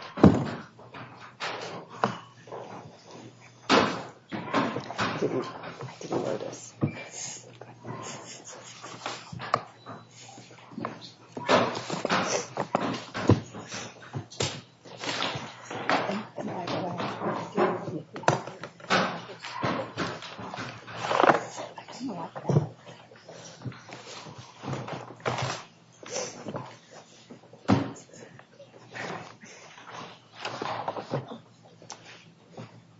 I didn't, I didn't know this.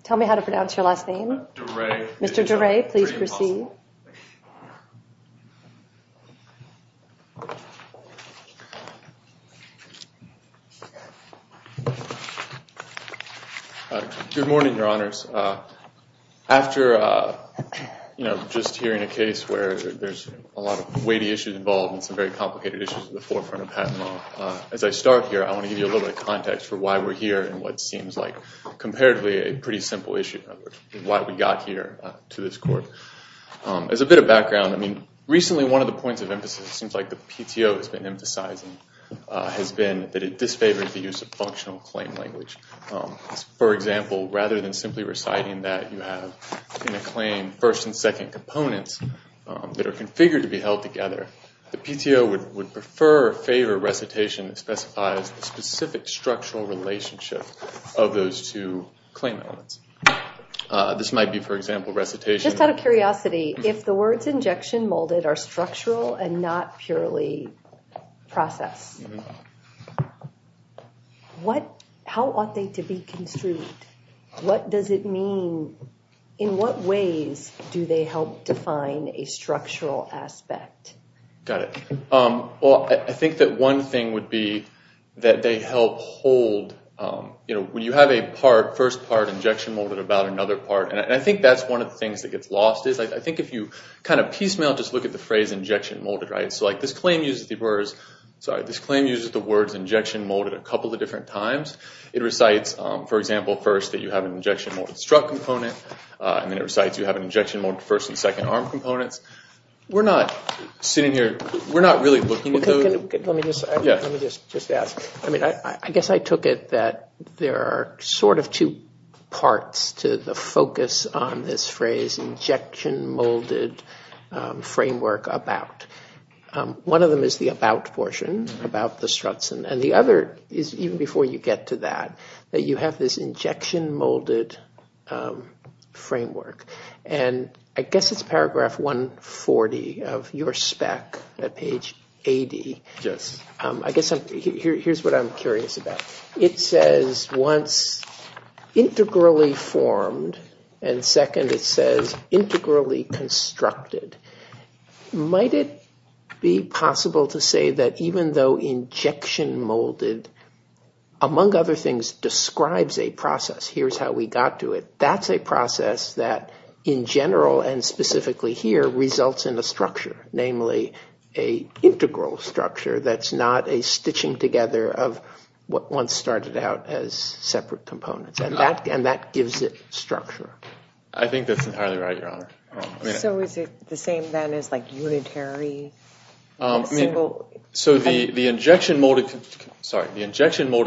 Tell me how to pronounce your last name. DeRay. Mr. DeRay, please proceed. Good morning, Your Honors. After, you know, just hearing a case where there's a lot of weighty issues involved and some very complicated issues at the forefront of Pat and Mo, as I start here, I want to give you a little bit of context for why we're here and what seems like comparatively a pretty simple issue, in other words, why we got here to this court. As a bit of background, I mean, recently one of the points of emphasis, it seems like the PTO has been emphasizing, has been that it disfavors the use of functional claim language. For example, rather than simply reciting that you have in a claim first and second components that are configured to be held together, the PTO would prefer or favor recitation that specifies the specific structural relationship of those two claim elements. This might be, for example, recitation. Just out of curiosity, if the words injection molded are structural and not purely process, what, how ought they to be construed? What does it mean? In what ways do they help define a structural aspect? Got it. Well, I think that one thing would be that they help hold, you know, when you have a part, first part, injection molded, about another part, and I think that's one of the things that gets lost is, I think if you kind of piecemeal just look at the phrase injection molded, right? So like this claim uses the words injection molded a couple of different times. It recites, for example, first that you have an injection molded strut component, and then it recites you have an injection molded first and second arm components. We're not sitting here, we're not really looking at those. Let me just ask. I mean, I guess I took it that there are sort of two parts to the focus on this phrase, injection molded framework about. One of them is the about portion, about the struts, and the other is even before you get to that, that you have this injection molded framework. And I guess it's paragraph 140 of your spec at page 80. Yes. I guess here's what I'm curious about. It says once integrally formed, and second it says integrally constructed. Might it be possible to say that even though injection molded, among other things, describes a process, here's how we got to it, that's a process that in general and specifically here results in a structure, namely a integral structure that's not a stitching together of what once started out as separate components. And that gives it structure. I think that's entirely right, Your Honor. So is it the same then as like unitary? So the injection molded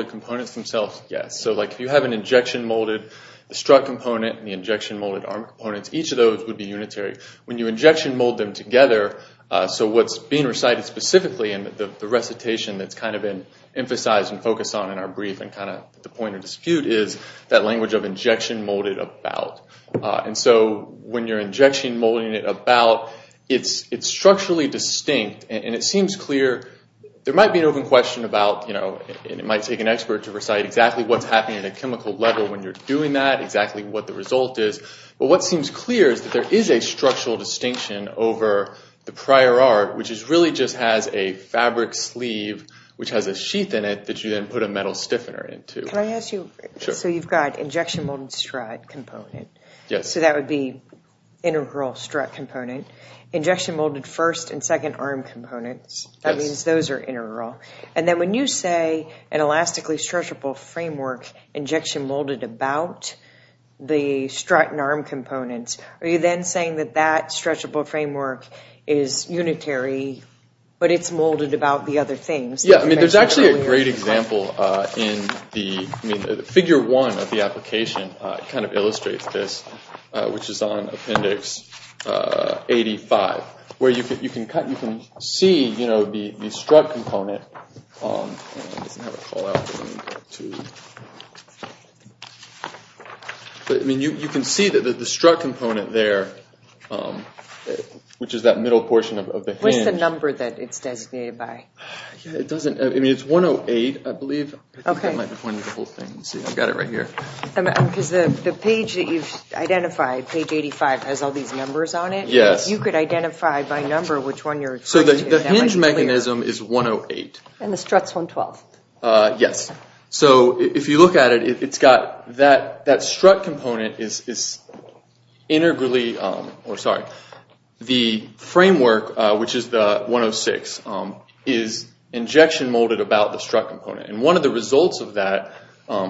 components themselves, yes. So if you have an injection molded strut component and the injection molded arm components, each of those would be unitary. When you injection mold them together, so what's being recited specifically and the recitation that's kind of been emphasized and focused on in our brief and kind of the point of dispute is that language of injection molded about. And so when you're injection molding it about, it's structurally distinct. And it seems clear there might be an open question about, you know, it might take an expert to recite exactly what's happening at a chemical level when you're doing that, exactly what the result is. But what seems clear is that there is a structural distinction over the prior art, which really just has a fabric sleeve, which has a sheath in it, that you then put a metal stiffener into. So you've got injection molded strut component. So that would be integral strut component. Injection molded first and second arm components. That means those are integral. And then when you say an elastically stretchable framework injection molded about the strut and arm components, are you then saying that that stretchable framework is unitary, but it's molded about the other things? Yeah. I mean, there's actually a great example in the figure one of the application. It kind of illustrates this, which is on appendix 85, where you can see, you know, the strut component. I mean, you can see that the strut component there, which is that middle portion of the hinge. What's the number that it's designated by? It doesn't. I mean, it's 108, I believe. Okay. I think that might be pointing to the whole thing. Let's see. I've got it right here. Because the page that you've identified, page 85, has all these numbers on it. Yes. You could identify by number which one you're referring to. So the hinge mechanism is 108. And the strut's 112. Yes. So if you look at it, it's got that strut component is integrally, or sorry, the framework, which is the 106, is injection molded about the strut component. And one of the results of that,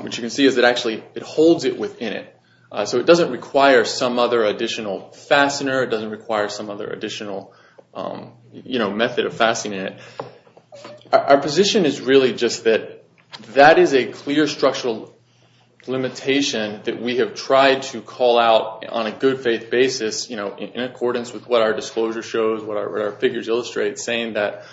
which you can see, is that actually it holds it within it. So it doesn't require some other additional fastener. It doesn't require some other additional, you know, method of fastening it. Our position is really just that that is a clear structural limitation that we have tried to call out on a good faith basis, you know, in accordance with what our disclosure shows, what our figures illustrate, saying that,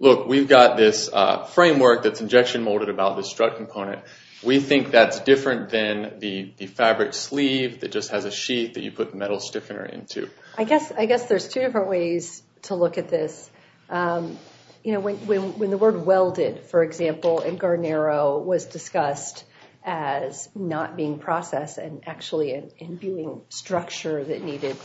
look, we've got this framework that's injection molded about the strut component. We think that's different than the fabric sleeve that just has a sheet that you put metal stiffener into. I guess there's two different ways to look at this. You know, when the word welded, for example, in Guarnero was discussed as not being processed and actually an imbuing structure that needed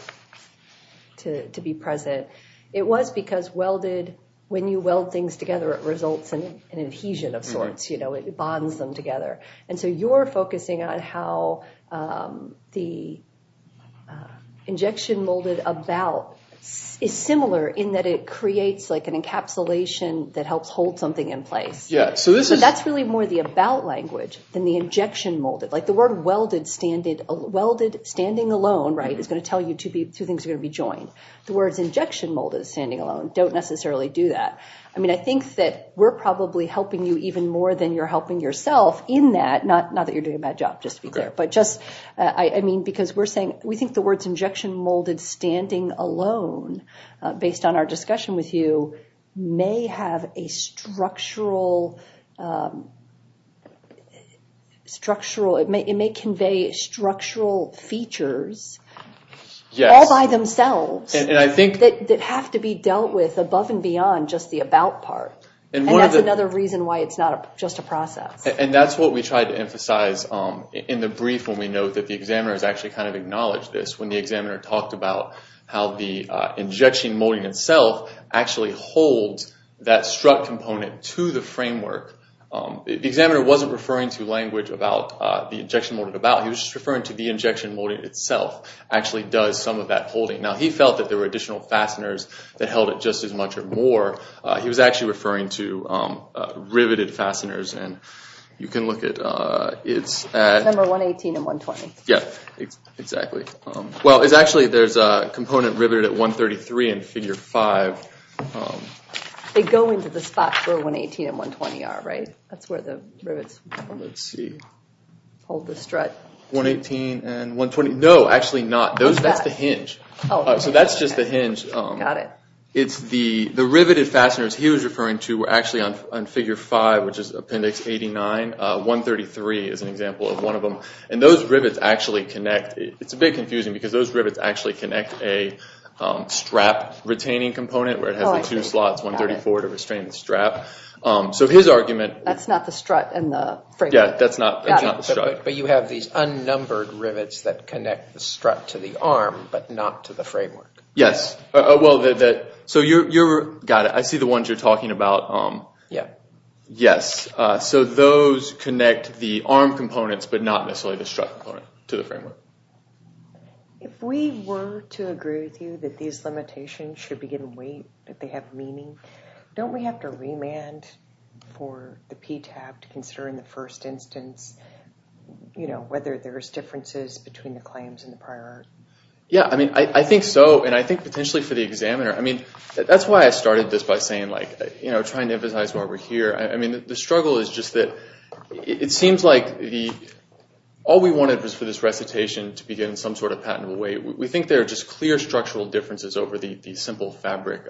to be present, it was because welded, when you weld things together, it results in an adhesion of sorts, you know, it bonds them together. And so you're focusing on how the injection molded about is similar in that it creates like an encapsulation that helps hold something in place. But that's really more the about language than the injection molded. Like the word welded standing alone, right, is going to tell you two things are going to be joined. The words injection molded standing alone don't necessarily do that. I mean, I think that we're probably helping you even more than you're helping yourself in that. Not that you're doing a bad job, just to be clear. I mean, because we're saying we think the words injection molded standing alone, based on our discussion with you, may have a structural, it may convey structural features all by themselves that have to be dealt with above and beyond just the about part. And that's another reason why it's not just a process. And that's what we tried to emphasize in the brief when we note that the examiners actually kind of acknowledged this. When the examiner talked about how the injection molding itself actually holds that strut component to the framework, the examiner wasn't referring to language about the injection molded about, he was just referring to the injection molding itself actually does some of that holding. Now he felt that there were additional fasteners that held it just as much or more. He was actually referring to riveted fasteners, and you can look at it. Number 118 and 120. Yeah, exactly. Well, it's actually, there's a component riveted at 133 in figure five. They go into the spot where 118 and 120 are, right? That's where the rivets hold the strut. 118 and 120, no, actually not. That's the hinge. So that's just the hinge. Got it. It's the riveted fasteners he was referring to were actually on figure five, which is appendix 89. 133 is an example of one of them. And those rivets actually connect. It's a bit confusing because those rivets actually connect a strap retaining component where it has the two slots, 134 to restrain the strap. So his argument. That's not the strut and the framework. Yeah, that's not the strut. But you have these unnumbered rivets that connect the strut to the arm but not to the framework. Yes. Well, so you're, got it. I see the ones you're talking about. Yeah. Yes. So those connect the arm components but not necessarily the strut component to the framework. If we were to agree with you that these limitations should be given weight, that they have meaning, don't we have to remand for the PTAB to consider in the first instance, you know, whether there's differences between the claims and the prior? Yeah. I mean, I think so. And I think potentially for the examiner. I mean, that's why I started this by saying like, you know, trying to emphasize why we're here. I mean, the struggle is just that it seems like all we wanted was for this recitation to begin in some sort of patentable way. We think there are just clear structural differences over the simple fabric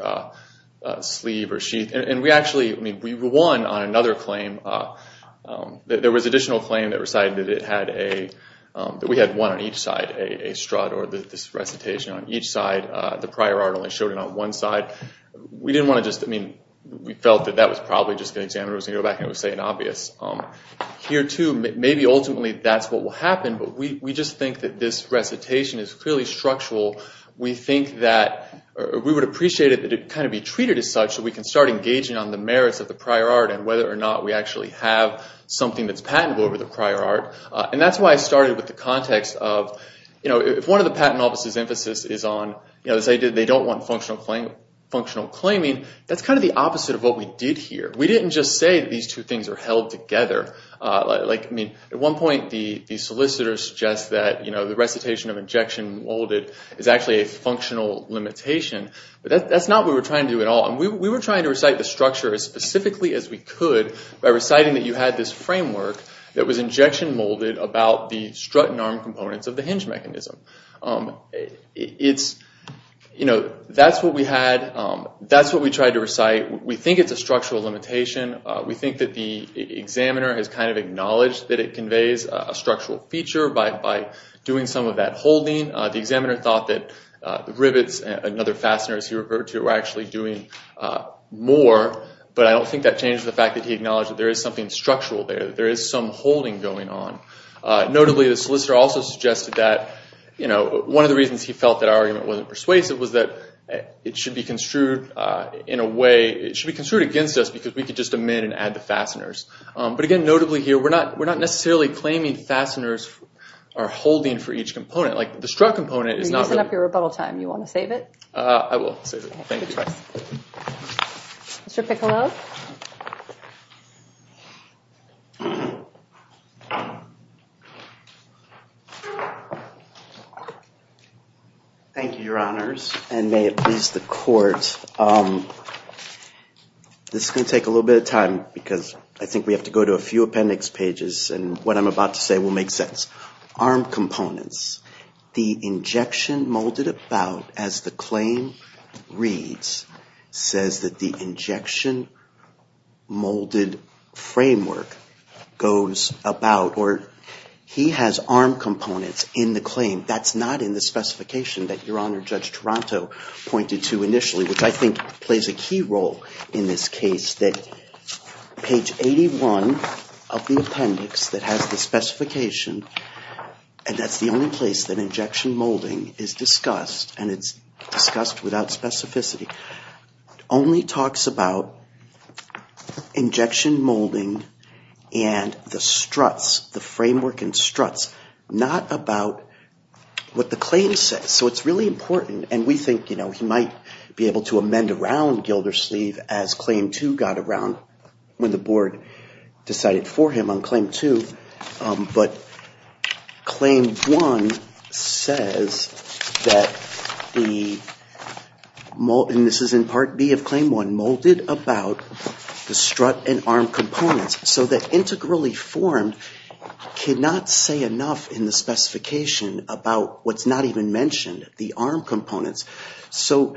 sleeve or sheet. And we actually, I mean, we won on another claim. There was an additional claim that recited that it had a, that we had one on each side, a strut or this recitation on each side. The prior art only showed it on one side. We didn't want to just, I mean, we felt that that was probably just the examiner was going to go back and say it was obvious. Here too, maybe ultimately that's what will happen, but we just think that this recitation is clearly structural. We think that, or we would appreciate it to kind of be treated as such so we can start engaging on the merits of the prior art and whether or not we actually have something that's patentable over the prior art. And that's why I started with the context of, you know, if one of the patent offices' emphasis is on, you know, they say they don't want functional claiming, that's kind of the opposite of what we did here. We didn't just say these two things are held together. Like, I mean, at one point the solicitor suggests that, you know, the recitation of injection molded is actually a functional limitation. But that's not what we were trying to do at all. We were trying to recite the structure as specifically as we could by reciting that you had this framework that was injection molded about the strut and arm components of the hinge mechanism. It's, you know, that's what we had. That's what we tried to recite. We think it's a structural limitation. We think that the examiner has kind of acknowledged that it conveys a structural feature by doing some of that holding. The examiner thought that the rivets and other fasteners he referred to were actually doing more. But I don't think that changes the fact that he acknowledged that there is something structural there. There is some holding going on. Notably, the solicitor also suggested that, you know, one of the reasons he felt that our argument wasn't persuasive was that it should be construed in a way, it should be construed against us because we could just amend and add the fasteners. But again, notably here, we're not necessarily claiming fasteners are holding for each component. Like the strut component is not really. You're using up your rebuttal time. You want to save it? I will save it. Thank you. Mr. Piccolo. Thank you, Your Honors, and may it please the court. This is going to take a little bit of time because I think we have to go to a few appendix pages and what I'm about to say will make sense. Arm components. The injection molded about, as the claim reads, says that the injection molded framework goes about, or he has arm components in the claim. That's not in the specification that Your Honor Judge Taranto pointed to initially, which I think plays a key role in this case that page 81 of the appendix that has the specification, and that's the only place that injection molding is discussed, and it's discussed without specificity, only talks about injection molding and the struts, the framework and struts, not about what the claim says. So it's really important, and we think he might be able to amend around Gildersleeve as Claim 2 got around when the board decided for him on Claim 2, but Claim 1 says that the mold, and this is in Part B of Claim 1, molded about the strut and arm components, so that integrally formed cannot say enough in the specification about what's not even mentioned, the arm components. So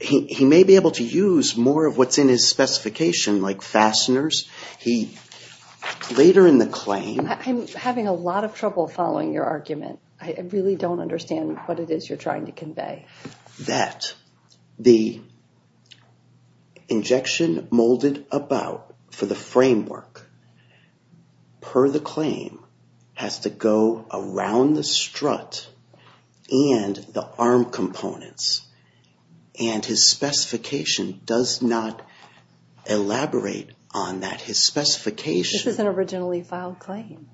he may be able to use more of what's in his specification, like fasteners. He later in the claim... I'm having a lot of trouble following your argument. I really don't understand what it is you're trying to convey. That the injection molded about for the framework per the claim has to go around the strut and the arm components, and his specification does not elaborate on that. His specification... This is an originally filed claim.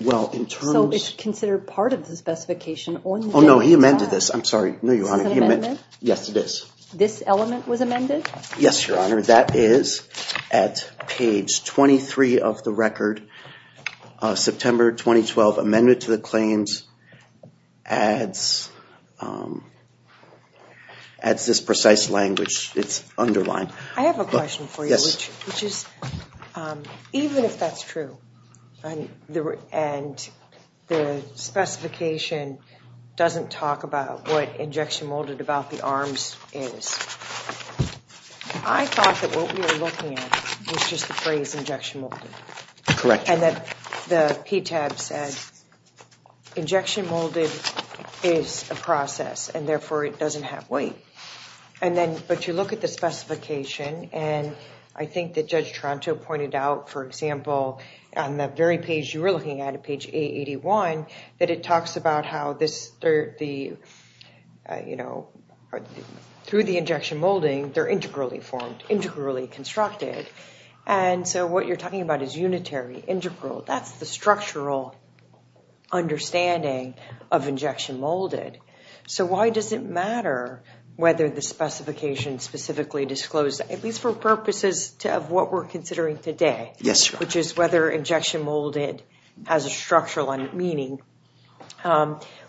Well, in terms... So it's considered part of the specification on... Oh, no, he amended this. I'm sorry, no, Your Honor. This is an amendment? Yes, it is. This element was amended? Yes, Your Honor. That is at page 23 of the record, September 2012. Amendment to the claims adds this precise language. It's underlined. I have a question for you. Yes. Which is, even if that's true, and the specification doesn't talk about what injection molded about the arms is, I thought that what we were looking at was just the phrase injection molded. Correct. And that the PTAB said injection molded is a process, and therefore it doesn't have weight. But you look at the specification, and I think that Judge Toronto pointed out, for example, on the very page you were looking at, page 881, that it talks about how through the injection molding, they're integrally formed, integrally constructed. And so what you're talking about is unitary, integral. That's the structural understanding of injection molded. So why does it matter whether the specification specifically disclosed, at least for purposes of what we're considering today, which is whether injection molded has a structural meaning,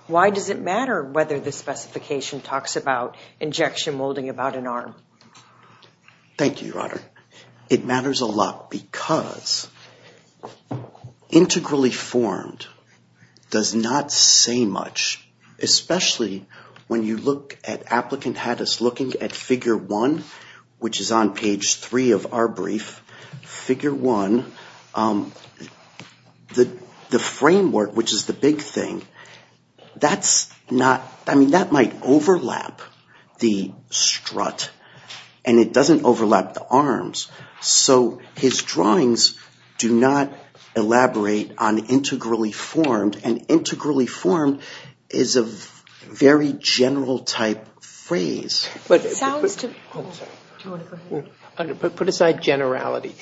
why does it matter whether the specification talks about injection molding about an arm? Thank you, Your Honor. It matters a lot because integrally formed does not say much, especially when you look at applicant had us looking at figure one, which is on page three of our brief. Figure one, the framework, which is the big thing, that's not, I mean, that might overlap the strut, and it doesn't overlap the arms. So his drawings do not elaborate on integrally formed, and integrally formed is a very general type phrase. But it sounds to me, put aside generality.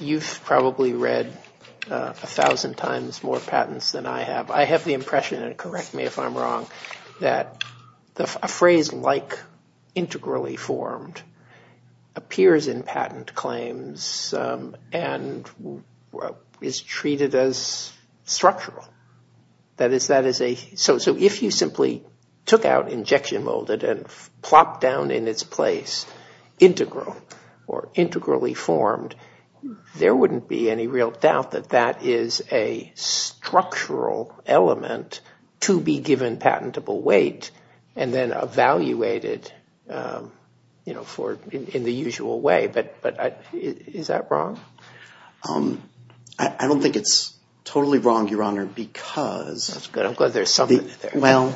You've probably read a thousand times more patents than I have. I have the impression, and correct me if I'm wrong, that a phrase like integrally formed appears in patent claims and is treated as structural. So if you simply took out injection molded and plopped down in its place integral or integrally formed, there wouldn't be any real doubt that that is a structural element to be given patentable weight and then evaluated in the usual way. But is that wrong? I don't think it's totally wrong, Your Honor, because... That's good. I'm glad there's something there. Well,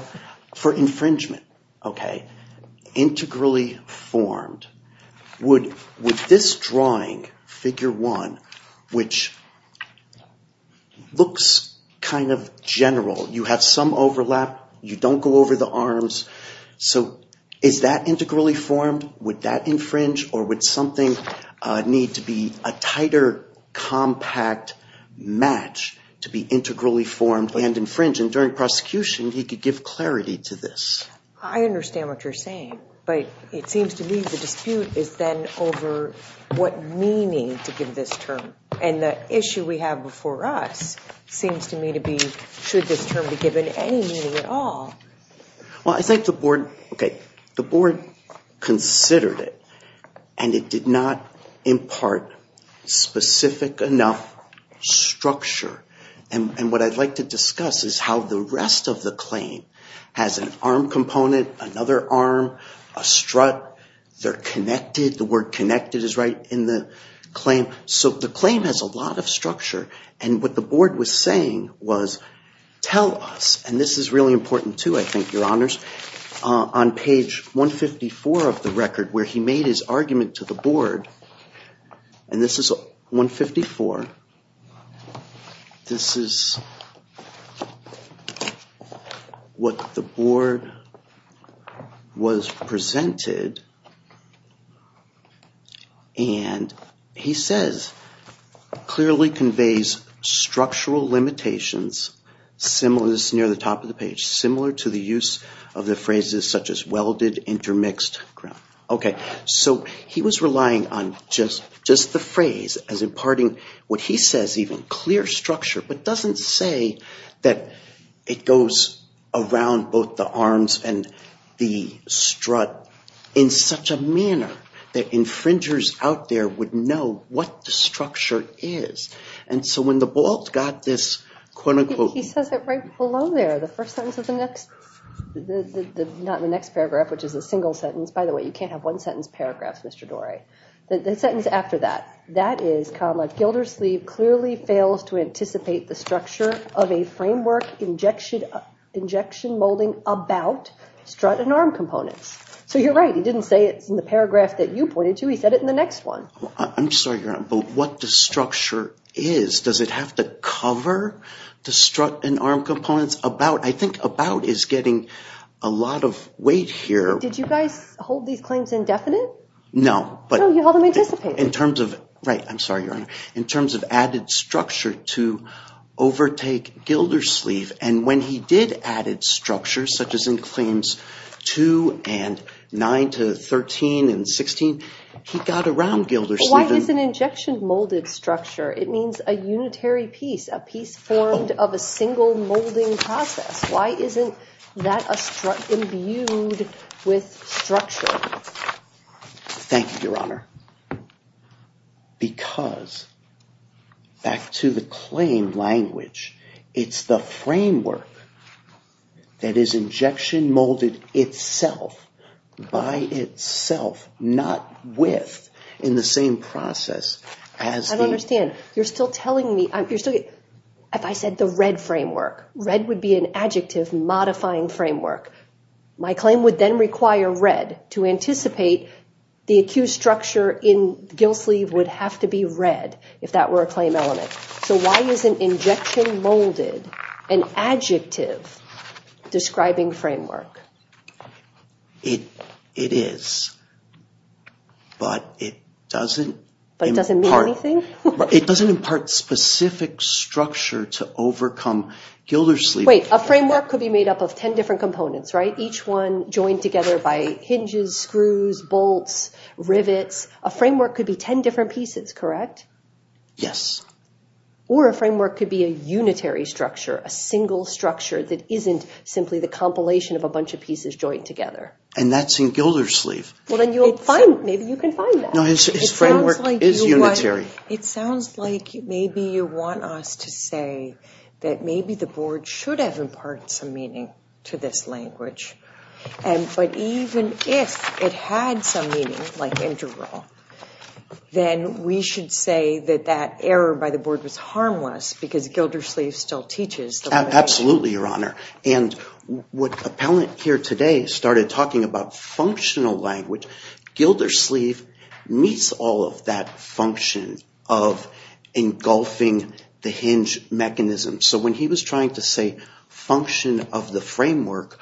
for infringement, okay, integrally formed, would this drawing, figure one, which looks kind of general, you have some overlap, you don't go over the arms, so is that integrally formed? Would that infringe or would something need to be a tighter, compact match to be integrally formed and infringe? And during prosecution, he could give clarity to this. I understand what you're saying, but it seems to me the dispute is then over what meaning to give this term. And the issue we have before us seems to me to be, should this term be given any meaning at all? Well, I think the board, okay, the board considered it, and it did not impart specific enough structure. And what I'd like to discuss is how the rest of the claim has an arm component, another arm, a strut, they're connected, the word connected is right in the claim, so the claim has a lot of structure. And what the board was saying was, tell us, and this is really important too, I think, Your Honors, on page 154 of the record where he made his argument to the board, and this is 154, this is what the board was presented, and he says, clearly conveys structural limitations similar, this is near the top of the page, similar to the use of the phrases such as welded, intermixed. Okay, so he was relying on just the phrase as imparting what he says even, clear structure, but doesn't say that it goes around both the arms and the strut. In such a manner that infringers out there would know what the structure is. And so when the board got this, quote unquote. He says it right below there, the first sentence of the next, not the next paragraph, which is a single sentence. By the way, you can't have one sentence paragraphs, Mr. Dorey. The sentence after that, that is comma, Gildersleeve clearly fails to anticipate the structure of a framework injection molding about strut and arm components. So you're right, he didn't say it in the paragraph that you pointed to, he said it in the next one. I'm sorry, Your Honor, but what the structure is, does it have to cover the strut and arm components? About, I think about is getting a lot of weight here. Did you guys hold these claims indefinite? No. No, you held them anticipated. I'm sorry, Your Honor. In terms of added structure to overtake Gildersleeve. And when he did added structure, such as in claims 2 and 9 to 13 and 16, he got around Gildersleeve. Why is an injection molded structure? It means a unitary piece, a piece formed of a single molding process. Why isn't that a strut imbued with structure? Thank you, Your Honor. Because, back to the claim language, it's the framework that is injection molded itself, by itself, not with, in the same process. I don't understand. You're still telling me, you're still, if I said the RED framework, RED would be an adjective modifying framework. My claim would then require RED to anticipate the accused structure in Gildersleeve would have to be RED, if that were a claim element. So why is an injection molded an adjective describing framework? It is. But it doesn't. But it doesn't mean anything? It doesn't impart specific structure to overcome Gildersleeve. Wait, a framework could be made up of 10 different components, right? Each one joined together by hinges, screws, bolts, rivets. A framework could be 10 different pieces, correct? Yes. Or a framework could be a unitary structure, a single structure that isn't simply the compilation of a bunch of pieces joined together. And that's in Gildersleeve. Well, then you'll find, maybe you can find that. No, his framework is unitary. It sounds like maybe you want us to say that maybe the board should have imparted some meaning to this language. But even if it had some meaning, like integral, then we should say that that error by the board was harmless because Gildersleeve still teaches. Absolutely, Your Honor. And what Appellant here today started talking about functional language, Gildersleeve meets all of that function of engulfing the hinge mechanism. So when he was trying to say function of the framework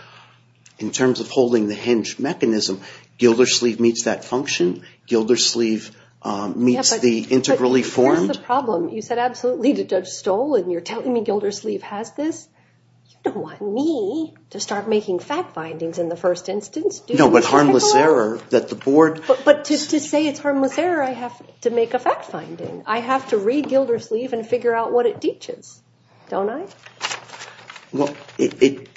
in terms of holding the hinge mechanism, Gildersleeve meets that function? Gildersleeve meets the integrally formed? That's the problem. You said absolutely to Judge Stoll and you're telling me Gildersleeve has this. You don't want me to start making fact findings in the first instance. No, but harmless error that the board… But to say it's harmless error, I have to make a fact finding. I have to read Gildersleeve and figure out what it teaches, don't I? Well, it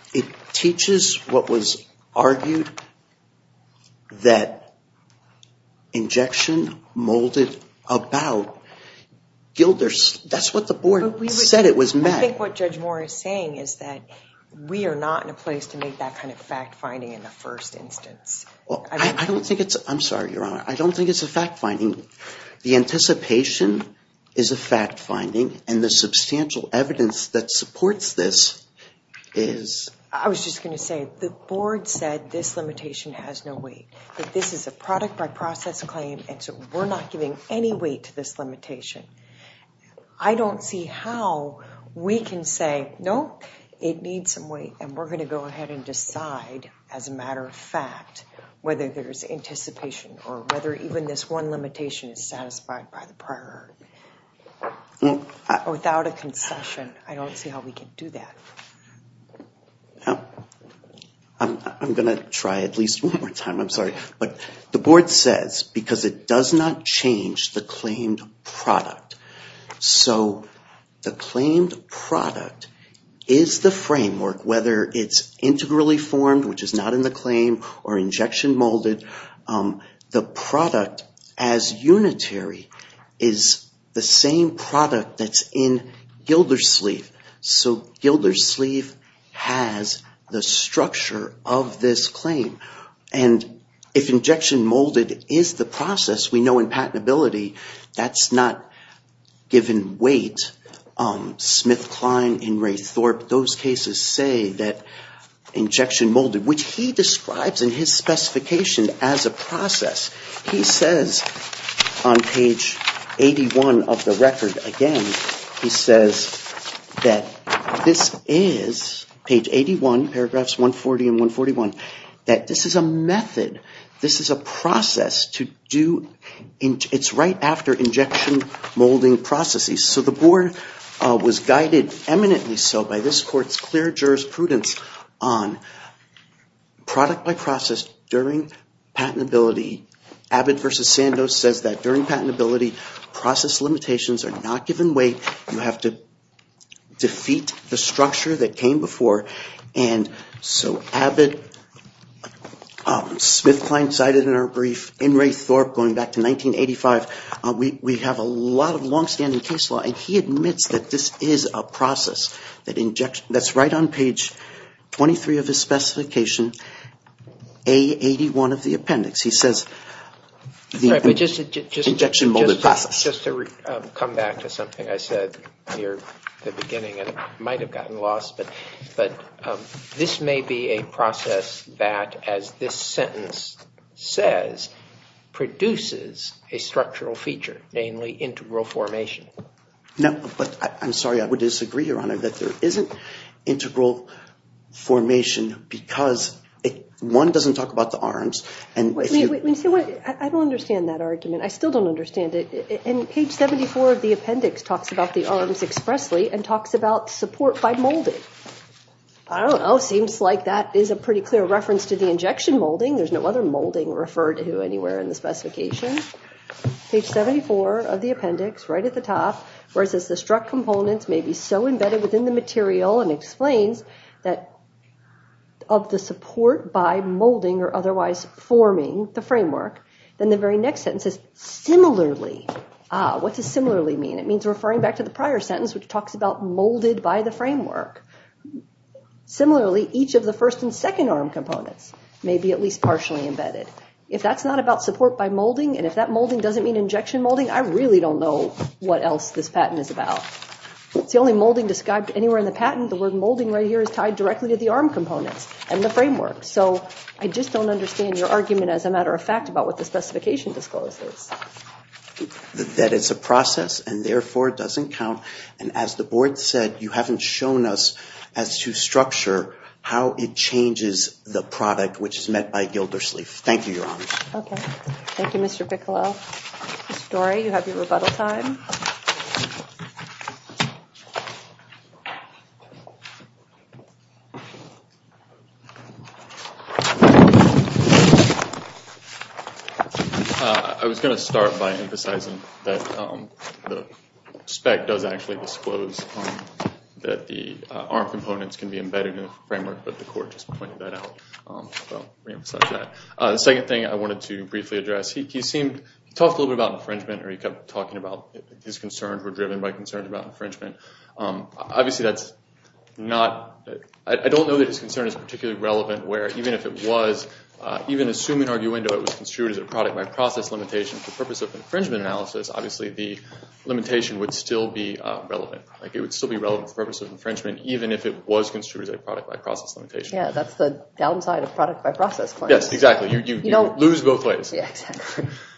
teaches what was argued that injection molded about Gilders… That's what the board said it was meant. I think what Judge Moore is saying is that we are not in a place to make that kind of fact finding in the first instance. Well, I don't think it's… I'm sorry, Your Honor. I don't think it's a fact finding. The anticipation is a fact finding and the substantial evidence that supports this is… I was just going to say the board said this limitation has no weight. This is a product by process claim and so we're not giving any weight to this limitation. I don't see how we can say, no, it needs some weight and we're going to go ahead and decide as a matter of fact whether there's anticipation or whether even this one limitation is satisfied by the prior without a concession. I don't see how we can do that. I'm going to try at least one more time. I'm sorry. But the board says because it does not change the claimed product. So the claimed product is the framework whether it's integrally formed, which is not in the claim, or injection molded. The product as unitary is the same product that's in Gildersleeve. So Gildersleeve has the structure of this claim. And if injection molded is the process, we know in patentability that's not given weight. Smith-Klein and Ray Thorpe, those cases say that injection molded, which he describes in his specification as a process. He says on page 81 of the record, again, he says that this is, page 81, paragraphs 140 and 141, that this is a method. This is a process to do, it's right after injection molding processes. So the board was guided eminently so by this court's clear jurisprudence on product by process during patentability. Abbott v. Sandoz says that during patentability, process limitations are not given weight. You have to defeat the structure that came before. And so Abbott, Smith-Klein cited in our brief, and Ray Thorpe going back to 1985, we have a lot of long-standing case law, and he admits that this is a process. That's right on page 23 of his specification, A81 of the appendix. He says the injection molded process. Just to come back to something I said near the beginning, and it might have gotten lost, but this may be a process that, as this sentence says, produces a structural feature, namely integral formation. No, but I'm sorry, I would disagree, Your Honor, that there isn't integral formation because one doesn't talk about the arms. I don't understand that argument. I still don't understand it. And page 74 of the appendix talks about the arms expressly and talks about support by molding. I don't know. Seems like that is a pretty clear reference to the injection molding. There's no other molding referred to anywhere in the specification. Page 74 of the appendix, right at the top, where it says the struck components may be so embedded within the material and explains that of the support by molding or otherwise forming the framework. Then the very next sentence is similarly. What does similarly mean? It means referring back to the prior sentence, which talks about molded by the framework. Similarly, each of the first and second arm components may be at least partially embedded. If that's not about support by molding and if that molding doesn't mean injection molding, I really don't know what else this patent is about. It's the only molding described anywhere in the patent. The word molding right here is tied directly to the arm components and the framework. So I just don't understand your argument as a matter of fact about what the specification discloses. That it's a process and therefore doesn't count. And as the board said, you haven't shown us as to structure how it changes the product, which is met by Gildersleeve. Thank you, Your Honor. Thank you, Mr. Piccolo. Mr. Dore, you have your rebuttal time. I was going to start by emphasizing that the spec does actually disclose that the arm components can be embedded in the framework, but the court just pointed that out. The second thing I wanted to briefly address, he talked a little bit about infringement, or he kept talking about his concerns were driven by concerns about infringement. Obviously, I don't know that his concern is particularly relevant, where even assuming arguendo it was construed as a product by process limitation for the purpose of infringement analysis, obviously the limitation would still be relevant. It would still be relevant for the purpose of infringement even if it was construed as a product by process limitation. Yes, that's the downside of product by process claims. Yes, exactly. You lose both ways.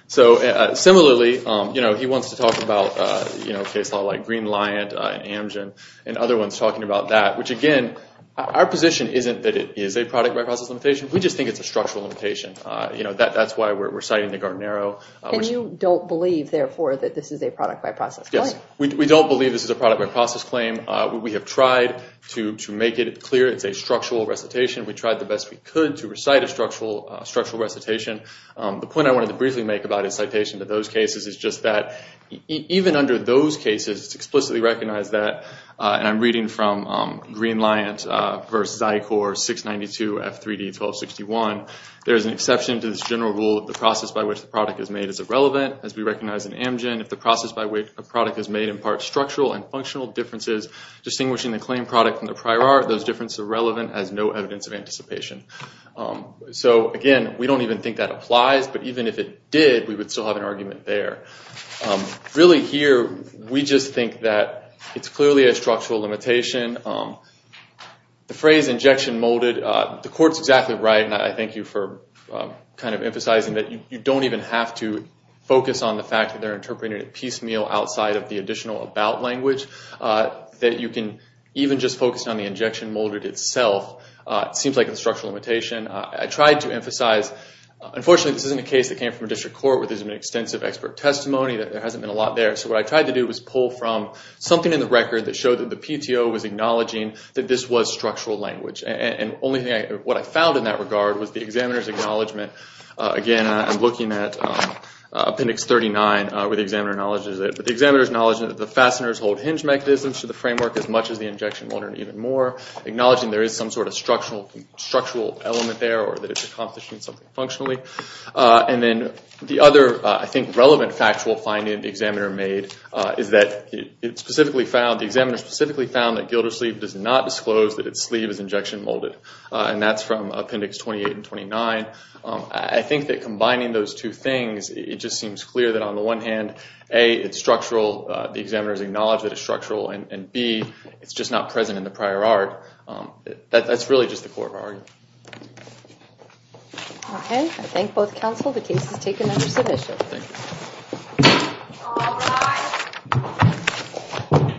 Similarly, he wants to talk about a case law like Green-Lyant and Amgen, and other ones talking about that, which again, our position isn't that it is a product by process limitation. We just think it's a structural limitation. That's why we're citing the Gartnero. And you don't believe, therefore, that this is a product by process claim? Yes, we don't believe this is a product by process claim. We have tried to make it clear it's a structural recitation. We tried the best we could to recite a structural recitation. The point I wanted to briefly make about his citation to those cases is just that, even under those cases, it's explicitly recognized that, and I'm reading from Green-Lyant v. Zykor 692 F3D 1261, there is an exception to this general rule that the process by which the product is made is irrelevant. As we recognize in Amgen, if the process by which a product is made imparts structural and functional differences, distinguishing the claim product from the prior art, those differences are relevant as no evidence of anticipation. So again, we don't even think that applies, but even if it did, we would still have an argument there. Really here, we just think that it's clearly a structural limitation. The phrase injection molded, the court's exactly right, and I thank you for emphasizing that you don't even have to focus on the fact that they're interpreting it piecemeal outside of the additional about language, that you can even just focus on the injection molded itself. It seems like a structural limitation. I tried to emphasize, unfortunately, this isn't a case that came from a district court where there's been extensive expert testimony, that there hasn't been a lot there. So what I tried to do was pull from something in the record that showed that the PTO was acknowledging that this was structural language. And what I found in that regard was the examiner's acknowledgment. Again, I'm looking at Appendix 39 where the examiner acknowledges it. But the examiner acknowledges that the fasteners hold hinge mechanisms to the framework as much as the injection molded even more, acknowledging there is some sort of structural element there or that it's accomplishing something functionally. And then the other, I think, relevant factual finding the examiner made is that it specifically found, the examiner specifically found that Gildersleeve does not disclose that its sleeve is injection molded. And that's from Appendix 28 and 29. I think that combining those two things, it just seems clear that on the one hand, A, it's structural, the examiner has acknowledged that it's structural, and B, it's just not present in the prior art. That's really just the core of our argument. Okay. I thank both counsel. The case is taken under submission. All rise.